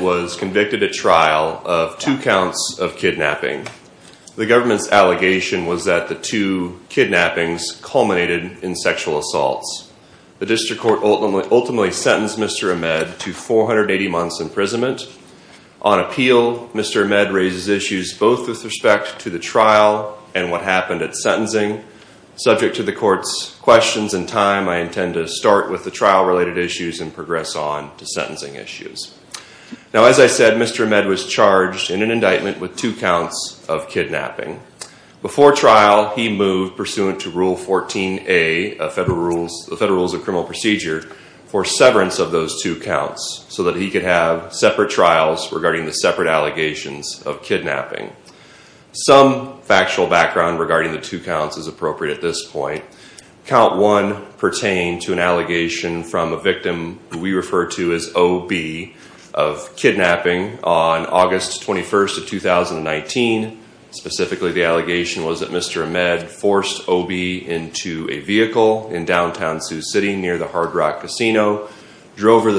was convicted at trial of two counts of kidnapping. The government's allegation was that the two kidnappings culminated in sexual assaults. The district court ultimately sentenced Mr. Ahmed to 480 months imprisonment. On appeal, Mr. Ahmed raises issues both with respect to the trial and what happened at sentencing. Subject to the court's questions and time, I intend to start with the trial-related issues and progress on to sentencing issues. Now, as I said, Mr. Ahmed was charged in an indictment with two counts of kidnapping. Before trial, he moved pursuant to Rule 14a of the Federal Rules of Criminal Procedure for severance of those two counts so that he could have separate trials regarding the separate allegations of kidnapping. Some factual background regarding the two counts is appropriate at this point. Count 1 pertained to an allegation from a victim we refer to as O.B. of kidnapping on August 21st of 2019. Specifically, the allegation was that Mr. Ahmed forced O.B. into a vehicle in downtown Sioux City near the Hard Rock Casino, drove her the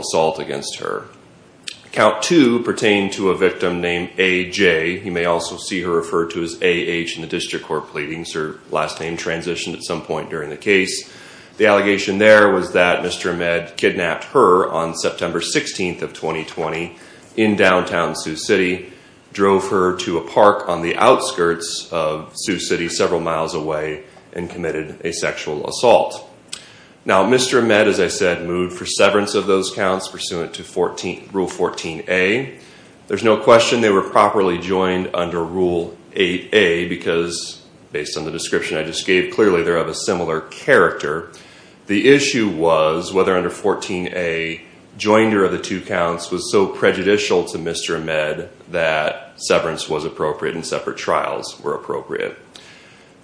assault against her. Count 2 pertained to a victim named A.J. You may also see her referred to as A.H. in the district court pleadings. Her last name transitioned at some point during the case. The allegation there was that Mr. Ahmed kidnapped her on September 16th of 2020 in downtown Sioux City, drove her to a park on the outskirts of Sioux City several miles away, and committed a sexual assault. Now, Mr. Ahmed, as I said, moved for severance of those counts pursuant to Rule 14a. There's no question they were properly joined under Rule 8a because, based on the description I just gave, clearly they're of a similar character. The issue was whether under 14a, joinder of the two counts was so prejudicial to Mr. Ahmed that severance was appropriate and separate trials were appropriate.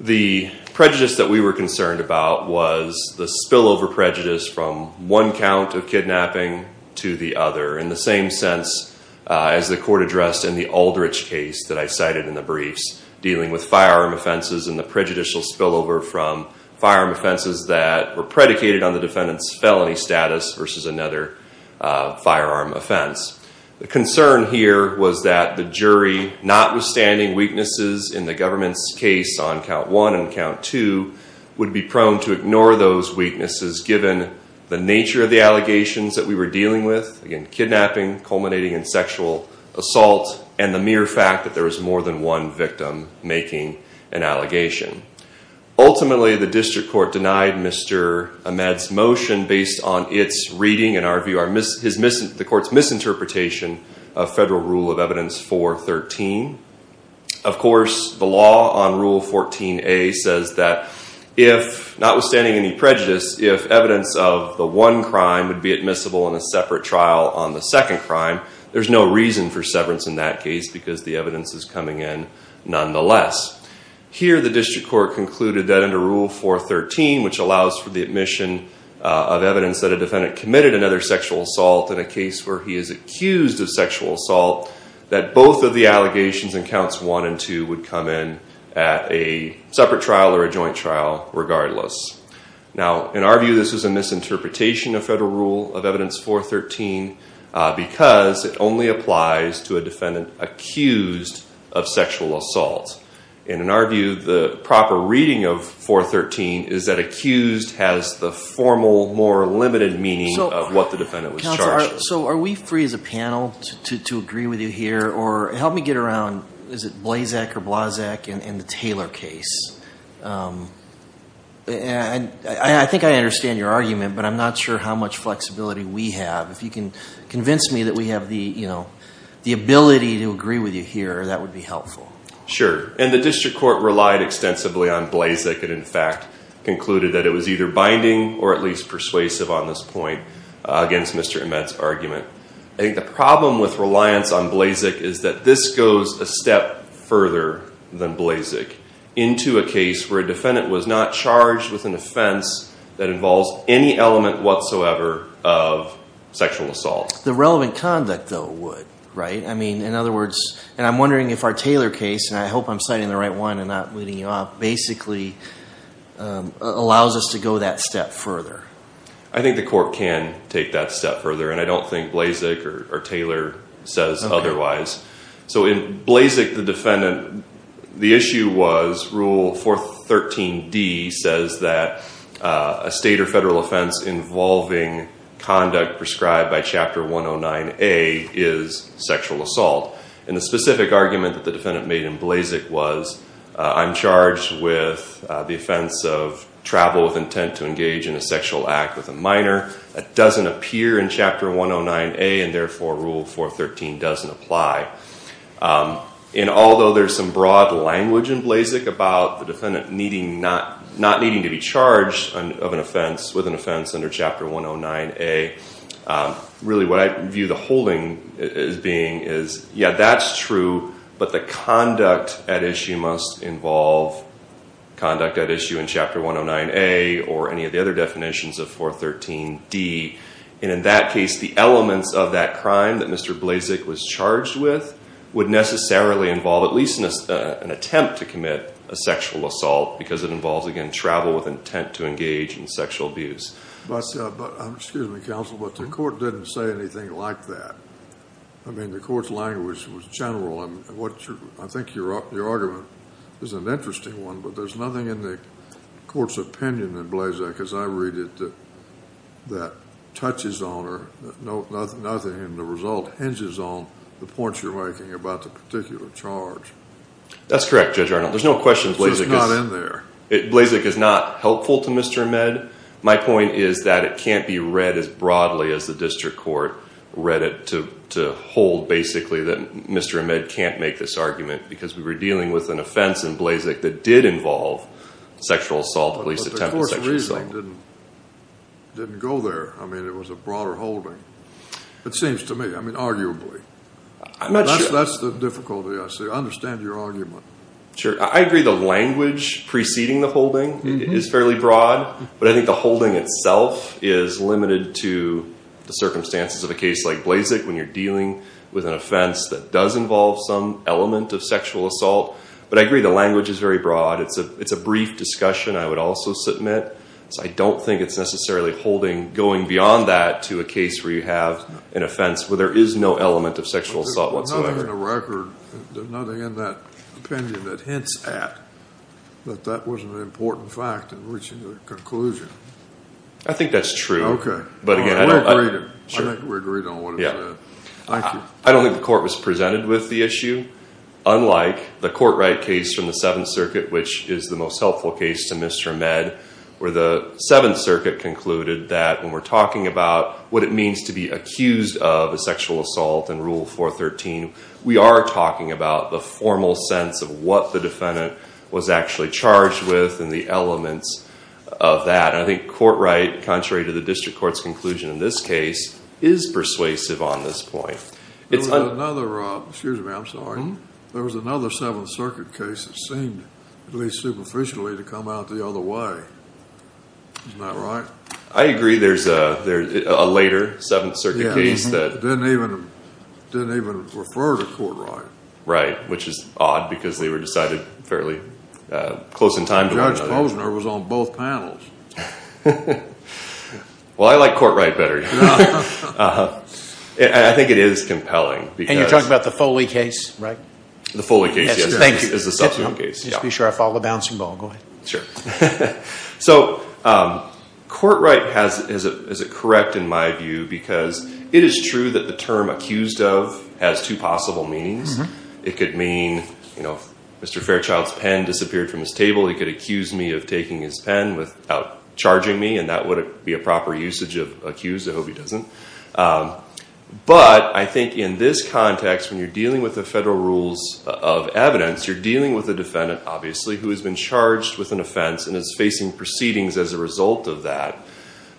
The prejudice that we were concerned about was the spillover prejudice from one count of kidnapping to the other, in the same sense as the court addressed in the Aldrich case that I cited in the briefs, dealing with firearm offenses and the prejudicial spillover from firearm offenses that were predicated on the defendant's felony status versus another firearm offense. The concern here was that the jury notwithstanding weaknesses in the government's case on count one and count two, would be prone to ignore those weaknesses given the nature of the allegations that we were dealing with, again kidnapping, culminating in sexual assault, and the mere fact that there was more than one victim making an allegation. Ultimately, the district court denied Mr. Ahmed's motion based on its reading and our view, the court's misinterpretation of federal rule of evidence 413. Of course, the law on rule 14a says that if, notwithstanding any prejudice, if evidence of the one crime would be admissible in a separate trial on the second crime, there's no reason for severance in that case because the evidence is coming in nonetheless. Here the district court concluded under rule 413, which allows for the admission of evidence that a defendant committed another sexual assault in a case where he is accused of sexual assault, that both of the allegations in counts one and two would come in at a separate trial or a joint trial regardless. Now in our view, this is a misinterpretation of federal rule of evidence 413 because it only applies to a case where the defendant was charged. So are we free as a panel to agree with you here or help me get around, is it Blazek or Blazek in the Taylor case? I think I understand your argument, but I'm not sure how much flexibility we have. If you can convince me that we have the ability to with you here, that would be helpful. Sure. And the district court relied extensively on Blazek and in fact concluded that it was either binding or at least persuasive on this point against Mr. Ahmed's argument. I think the problem with reliance on Blazek is that this goes a step further than Blazek into a case where a defendant was not charged with an offense that involves any element whatsoever of sexual assault. The relevant conduct though would, right? I mean, in other words, and I'm wondering if our Taylor case, and I hope I'm citing the right one and not leading you off, basically allows us to go that step further. I think the court can take that step further and I don't think Blazek or Taylor says otherwise. So in Blazek, the defendant, the issue was rule 413D says that a state or federal offense involving conduct prescribed by chapter 109A is sexual assault. And the specific argument that the defendant made in Blazek was I'm charged with the offense of travel with intent to engage in a sexual act with a minor. That doesn't appear in chapter 109A and therefore rule 413 doesn't apply. And although there's some broad language in Blazek about the defendant not needing to be of an offense with an offense under chapter 109A, really what I view the holding as being is, yeah, that's true, but the conduct at issue must involve conduct at issue in chapter 109A or any of the other definitions of 413D. And in that case, the elements of that crime that Mr. Blazek was charged with would necessarily involve at least an attempt to commit a sexual assault because it involves, again, travel with intent to engage in sexual abuse. But excuse me, counsel, but the court didn't say anything like that. I mean, the court's language was general. I think your argument is an interesting one, but there's nothing in the court's opinion in Blazek as I read it that touches on or nothing and the result hinges on the points you're making about the particular charge. That's correct, Judge Arnold. There's no question Blazek is not helpful to Mr. Ahmed. My point is that it can't be read as broadly as the district court read it to hold basically that Mr. Ahmed can't make this argument because we were dealing with an offense in Blazek that did involve sexual assault, at least attempted sexual assault. But the court's reasoning didn't go there. I mean, it was a broader holding, it seems to me, I mean, arguably. That's the difficulty I see. I understand your argument. Sure. I agree the language preceding the holding is fairly broad, but I think the holding itself is limited to the circumstances of a case like Blazek when you're dealing with an offense that does involve some element of sexual assault. But I agree the language is very broad. It's a brief discussion I would also submit. So I don't think it's necessarily holding going beyond that to a case where you have an offense where there is no element of sexual assault whatsoever. In the record, there's nothing in that opinion that hints at that that wasn't an important fact in reaching the conclusion. I think that's true. Okay. But again, I don't agree. I think we agreed on what it said. Thank you. I don't think the court was presented with the issue. Unlike the court right case from the Seventh Circuit, which is the most helpful case to Mr. Ahmed, where the Seventh Circuit concluded that when we're talking about what it means to be accused of a sexual assault in Rule 413, we are talking about the formal sense of what the defendant was actually charged with and the elements of that. I think court right, contrary to the district court's conclusion in this case, is persuasive on this point. There was another Seventh Circuit case that seemed at least superficially to come out the other way. Isn't that right? I agree there's a later Seventh Circuit case that didn't even didn't even refer to court right. Right, which is odd because they were decided fairly close in time. Judge Posner was on both panels. Well, I like court right better. I think it is compelling. And you're talking about the Foley case, right? The Foley case, yes. Thank you. Be sure I follow the bouncing ball. Go ahead. Sure. So court right, is it correct in my view? Because it is true that the term accused of has two possible meanings. It could mean, you know, Mr. Fairchild's pen disappeared from his table. He could accuse me of taking his pen without charging me. And that would be a proper usage of accused. I hope he doesn't. But I think in this context, when you're dealing with the federal rules of evidence, you're dealing with a defendant, obviously, who has been charged with an offense and is facing proceedings as a result of that.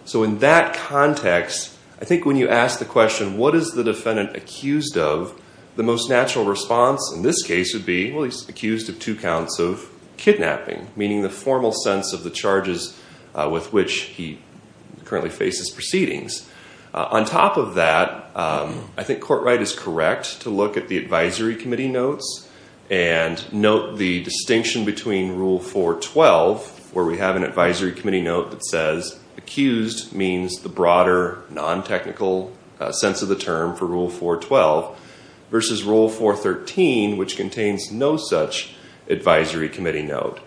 So in that context, I think when you ask the question, what is the defendant accused of? The most natural response in this case would be, well, he's accused of two counts of kidnapping, meaning the formal sense of the charges with which he currently faces proceedings. On top of that, I think court right is correct to look at the advisory committee notes and note the distinction between Rule 412, where we have an advisory committee note that says accused means the broader non-technical sense of the term for Rule 412 versus Rule 413, which contains no such advisory committee note.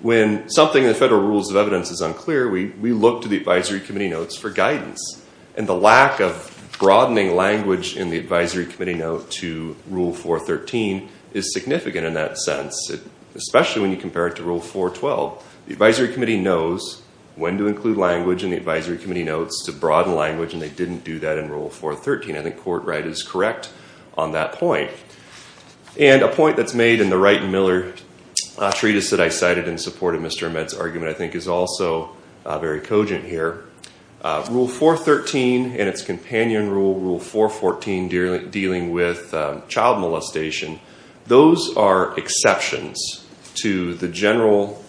When something in the federal rules of evidence is unclear, we look to the advisory committee notes for guidance. And the lack of broadening language in the advisory committee note to Rule 413 is significant in that sense, especially when you compare it to Rule 412. The advisory committee knows when to include language in the advisory committee notes to broaden language, and they didn't do that in Rule 413. I think court right is correct on that point. And a point that's made in the Wright and Miller treatise that I cited in support of Mr. Ahmed's argument, I think is also very cogent here. Rule 413 and its companion rule, Rule 414, dealing with child molestation, those are exceptions to the general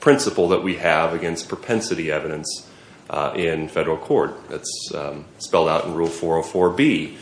principle that we have against propensity evidence in federal court. That's spelled out in Rule 404B.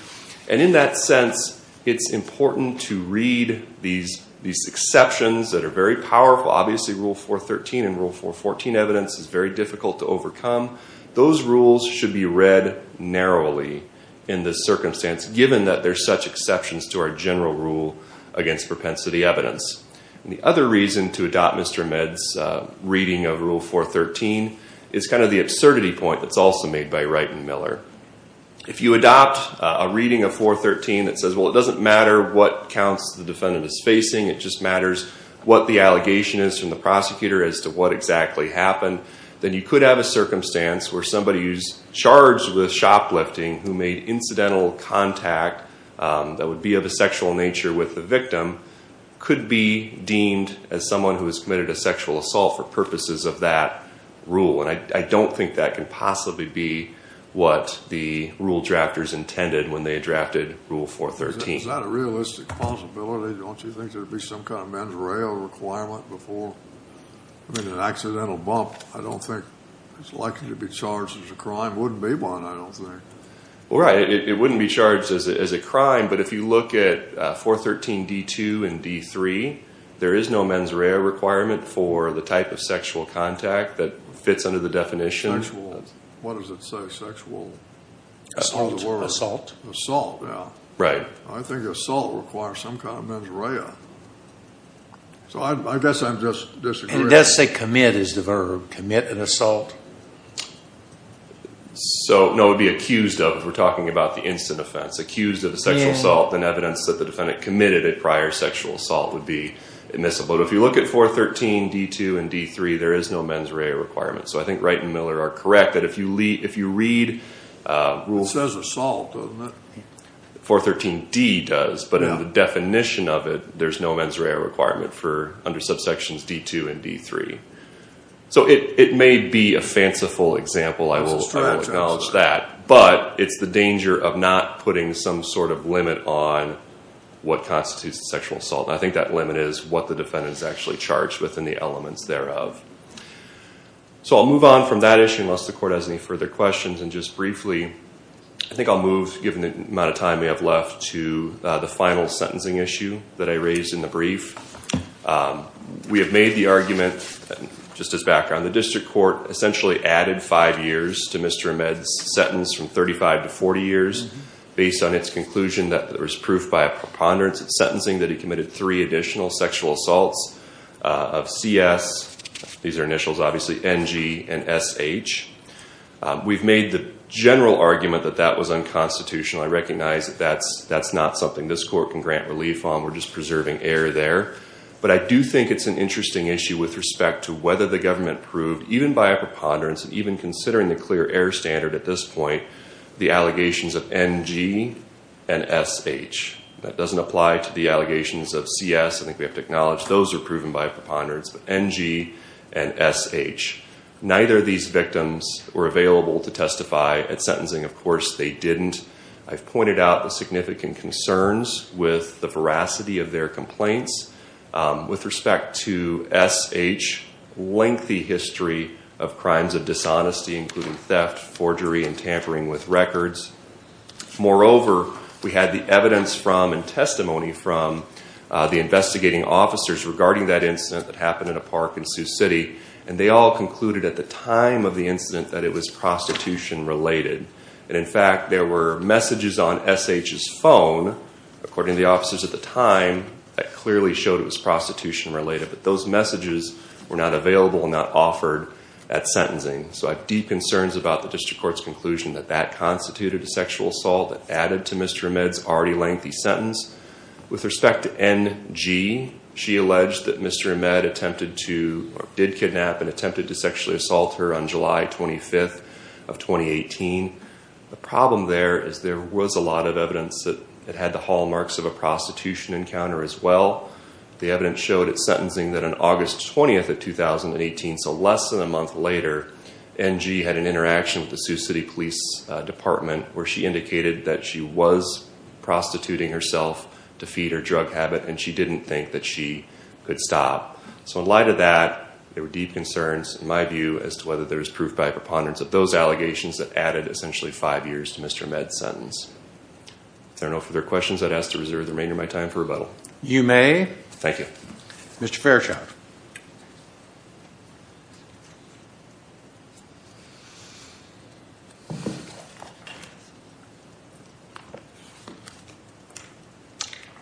And in that sense, it's important to read these exceptions that are very powerful. Obviously, Rule 413 and Rule 414 evidence is very difficult to overcome. Those rules should be read narrowly in this circumstance, given that there's such exceptions to our general rule against propensity evidence. And the other reason to adopt Mr. Ahmed's reading of Rule 413 is kind of the absurdity point that's also made by Wright and Miller. If you adopt a reading of 413 that says, well, it doesn't matter what counts the defendant is facing, it just what the allegation is from the prosecutor as to what exactly happened, then you could have a circumstance where somebody who's charged with shoplifting who made incidental contact that would be of a sexual nature with the victim could be deemed as someone who has committed a sexual assault for purposes of that rule. And I don't think that can possibly be what the rule drafters intended when they drafted Rule 413. It's not a realistic possibility, don't you think, there'd be some kind of mens rea requirement before? I mean, an accidental bump, I don't think it's likely to be charged as a crime. Wouldn't be one, I don't think. Right. It wouldn't be charged as a crime. But if you look at 413d2 and d3, there is no mens rea requirement for the type of sexual contact that fits under the definition. What does it say? Sexual? Assault. Assault. Yeah. Right. I think assault requires some kind of mens rea. So I guess I'm just disagreeing. It does say commit is the verb. Commit an assault. So, no, it would be accused of if we're talking about the incident offense. Accused of a sexual assault, then evidence that the defendant committed a prior sexual assault would be admissible. But if you look at 413d2 and d3, there is no mens rea requirement. So I think Wright and Miller are correct that if you read rules... It says assault. 413d does, but in the definition of it, there's no mens rea requirement for under subsections d2 and d3. So it may be a fanciful example. I will acknowledge that. But it's the danger of not putting some sort of limit on what constitutes a sexual assault. I think that limit is what the elements thereof. So I'll move on from that issue, unless the court has any further questions. And just briefly, I think I'll move, given the amount of time we have left, to the final sentencing issue that I raised in the brief. We have made the argument, just as background, the district court essentially added five years to Mr. Ahmed's sentence from 35 to 40 years based on its conclusion that there was proof by a preponderance of sentencing that he committed three additional sexual assaults of CS. These are initials, obviously, NG and SH. We've made the general argument that that was unconstitutional. I recognize that that's not something this court can grant relief on. We're just preserving error there. But I do think it's an interesting issue with respect to whether the government proved, even by a preponderance, even considering the clear error standard at this point, the allegations of NG and SH. That doesn't apply to the allegations of CS. I think we have acknowledged those are proven by a preponderance of NG and SH. Neither of these victims were available to testify at sentencing. Of course, they didn't. I've pointed out the significant concerns with the veracity of their complaints. With respect to SH, lengthy history of crimes of dishonesty, including theft, forgery, and tampering with records. Moreover, we had the evidence from and testimony from the investigating officers regarding that incident that happened in a park in Sioux City. And they all concluded at the time of the incident that it was prostitution related. And in fact, there were messages on SH's phone, according to the officers at the time, that clearly showed it was prostitution related. But those messages were not available and not offered at sentencing. So I have deep concerns about the district court's conclusion that that a sexual assault added to Mr. Ahmed's already lengthy sentence. With respect to NG, she alleged that Mr. Ahmed attempted to, or did kidnap and attempted to sexually assault her on July 25th of 2018. The problem there is there was a lot of evidence that it had the hallmarks of a prostitution encounter as well. The evidence showed at sentencing that on August 20th of 2018, so less than a month later, NG had an interaction with the Sioux City Police Department where she indicated that she was prostituting herself to feed her drug habit and she didn't think that she could stop. So in light of that, there were deep concerns in my view as to whether there was proof by preponderance of those allegations that added essentially five years to Mr. Ahmed's sentence. I don't know if there are questions I'd ask to reserve the remainder of my time for rebuttal. You may. Thank you. Mr. Fairchild.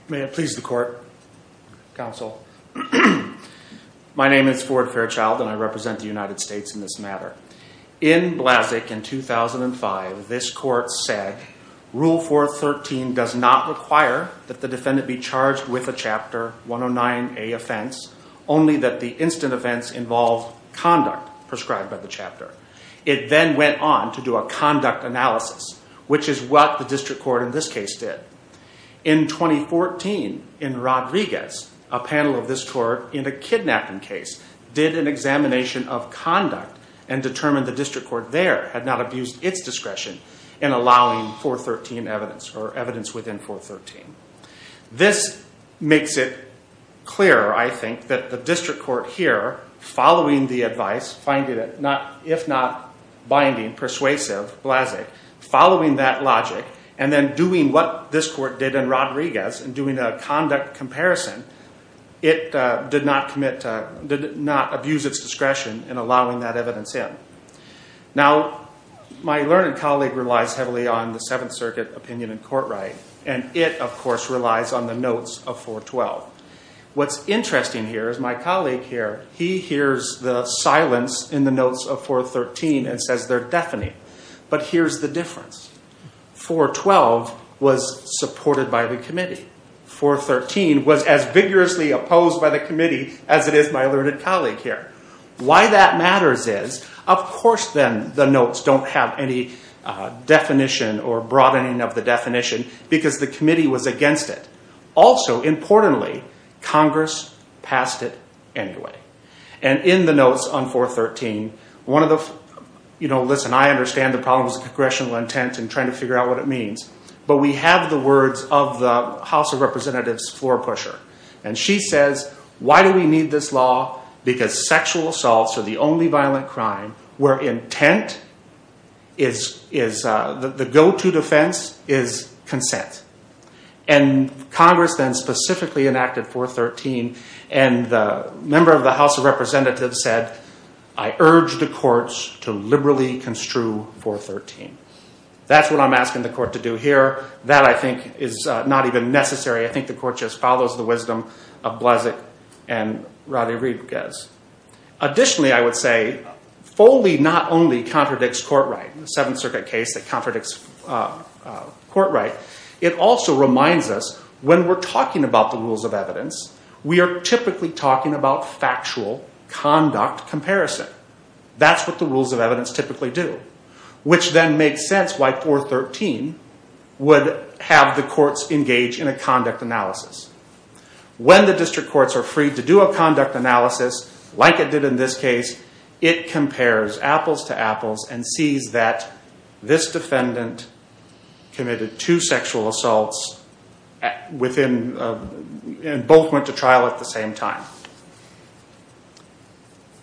May it please the court, counsel. My name is Ford Fairchild and I represent the United States in this matter. In Blasek in 2005, this court said rule 413 does not require that the defendant be charged with a 109A offense, only that the incident events involve conduct prescribed by the chapter. It then went on to do a conduct analysis, which is what the district court in this case did. In 2014, in Rodriguez, a panel of this court in a kidnapping case did an examination of conduct and determined the district court there had not abused its discretion in allowing 413 evidence or evidence within 413. This makes it clear, I think, that the district court here following the advice, if not binding, persuasive, Blasek, following that logic and then doing what this court did in Rodriguez and doing a conduct comparison, it did not abuse its discretion in allowing that evidence in. Now, my learned colleague relies heavily on the Seventh Circuit opinion in court right and it, of course, relies on the notes of 412. What's interesting here is my colleague here, he hears the silence in the notes of 413 and says they're deafening, but here's the difference. 412 was supported by the committee. 413 was as vigorously opposed by the committee as it is my learned colleague here. Why that matters is, of course, then the notes don't have any definition or broadening of the definition because the committee was against it. Also, importantly, Congress passed it anyway and in the notes on 413, one of the, you know, listen, I understand the problem is congressional intent and trying to figure out what it means, but we have the words of the House of Representatives floor pusher and she says, why do we need this law? Because sexual assaults are the only violent crime where intent is the go-to defense is consent. And Congress then specifically enacted 413 and the member of the House of Representatives said, I urge the courts to liberally construe 413. That's what I'm asking the court to do here. That, I think, is not even necessary. I think the court just follows the wisdom of Bleszik and Radivickas. Additionally, I would say Foley not only contradicts court right, the Seventh Circuit case that contradicts court right, it also reminds us when we're talking about the rules of evidence, we are typically talking about factual conduct comparison. That's what the rules of evidence typically do, which then makes sense why 413 would have the courts engage in a conduct analysis. When the district courts are free to do a conduct analysis like it did in this case, it compares apples to apples and sees that this defendant committed two sexual assaults within, and both went to trial at the same time.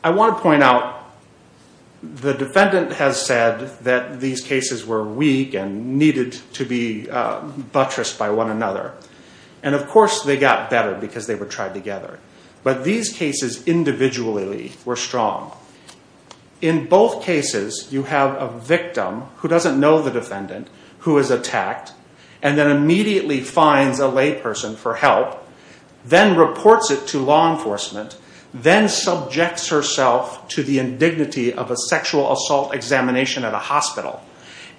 I want to point out the defendant has said that these cases were weak and needed to be buttressed by one another. And of course, they got better because they were tried together. But these cases individually were strong. In both cases, you have a victim who doesn't know the defendant, who is then subjects herself to the indignity of a sexual assault examination at a hospital,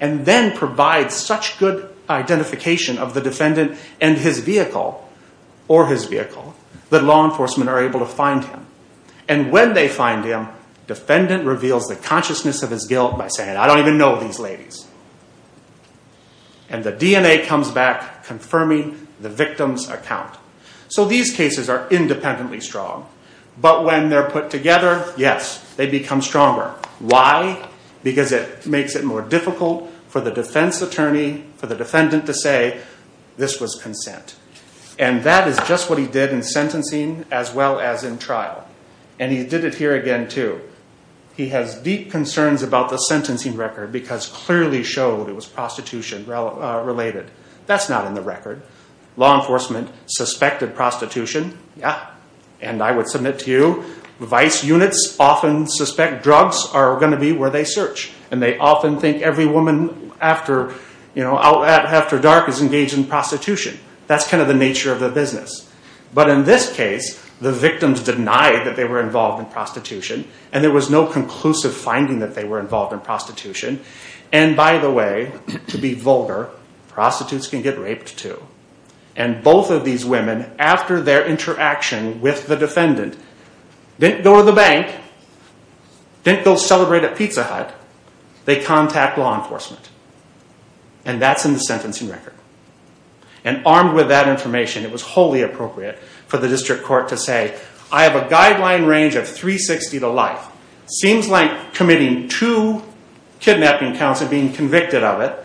and then provides such good identification of the defendant and his vehicle, or his vehicle, that law enforcement are able to find him. And when they find him, defendant reveals the consciousness of his guilt by saying, I don't even know these ladies. And the DNA comes back, confirming the victim's account. So these cases are independently strong. But when they're put together, yes, they become stronger. Why? Because it makes it more difficult for the defense attorney, for the defendant to say, this was consent. And that is just what he did in sentencing, as well as in trial. And he did it here again, too. He has deep concerns about the sentencing record, because clearly showed it was prostitution related. That's not in the record. Law enforcement suspected prostitution. Yeah. And I would submit to you, vice units often suspect drugs are going to be where they search. And they often think every woman after dark is engaged in prostitution. That's kind of the nature of the business. But in this case, the victims denied that they were involved in prostitution. And there was no conclusive finding that they were involved in prostitution. And by the way, to be vulgar, prostitutes can get raped, too. And both of these women, after their interaction with the defendant, didn't go to the bank, didn't go celebrate at Pizza Hut, they contact law enforcement. And that's in the sentencing record. And armed with that information, it was wholly appropriate for the district court to say, I have a guideline range of 360 to life. Seems like committing two kidnapping counts and being convicted of it.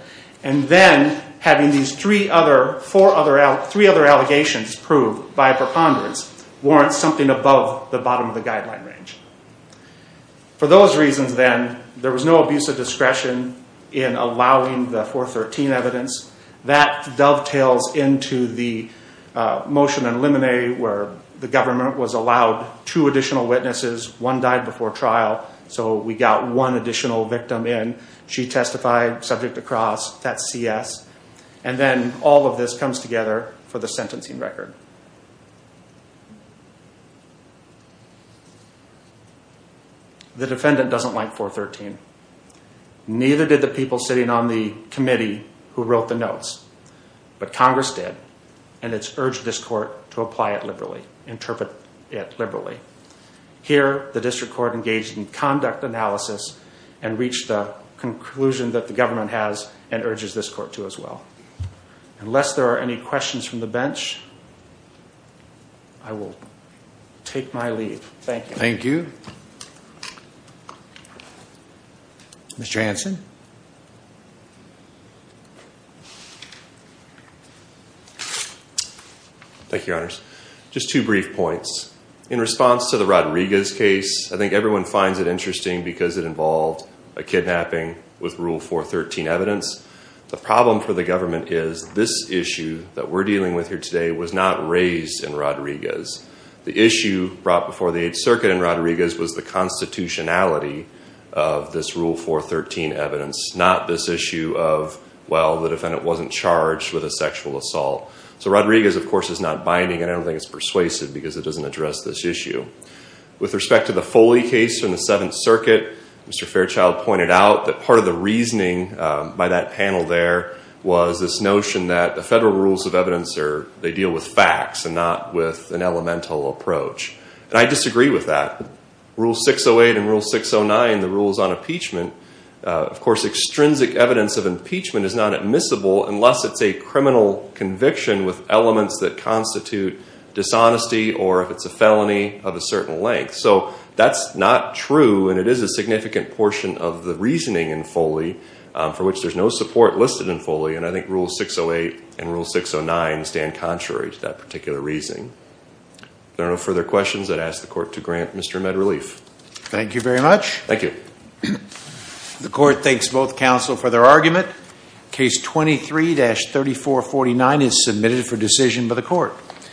And then having these three other, four other, three other allegations proved by a preponderance warrants something above the bottom of the guideline range. For those reasons, then, there was no abuse of discretion in allowing the 413 evidence. That dovetails into the motion and limine where the government was allowed two additional witnesses. One died before trial. So we got one additional victim in. She testified subject to cross. That's CS. And then all of this comes together for the sentencing record. The defendant doesn't like 413. Neither did the people sitting on the committee who wrote the notes. But Congress did. And it's urged this court to apply it liberally, interpret it liberally. Here, the district court engaged in conduct analysis and reached a conclusion that the government has and urges this court to as well. Unless there are any questions from the bench, I will take my leave. Thank you. Thank you. Mr. Hanson. Thank you, your honors. Just two brief points. In response to the Rodriguez case, I think everyone finds it interesting because it involved a kidnapping with Rule 413 evidence. The problem for the government is this issue that we're dealing with here today was not raised in Rodriguez. The issue brought before the 8th Circuit in Rodriguez was the constitutionality of this Rule 413 evidence, not this issue of, well, the defendant wasn't charged with a sexual assault. So Rodriguez, of course, is not binding. And I don't think it's persuasive because it doesn't address this issue. With respect to the Foley case from the 7th Circuit, Mr. Fairchild pointed out that part of the reasoning by that panel there was this notion that the federal rules of evidence, they deal with facts and not with an elemental approach. And I disagree with that. Rule 608 and Rule 609, the rules on impeachment, of course, extrinsic evidence of impeachment is not admissible unless it's a criminal conviction with elements that constitute dishonesty or if So that's not true. And it is a significant portion of the reasoning in Foley for which there's no support listed in Foley. And I think Rule 608 and Rule 609 stand contrary to that particular reasoning. If there are no further questions, I'd ask the court to grant Mr. Medrelief. Thank you very much. Thank you. The court thanks both counsel for their argument. Case 23-3449 is submitted for decision by the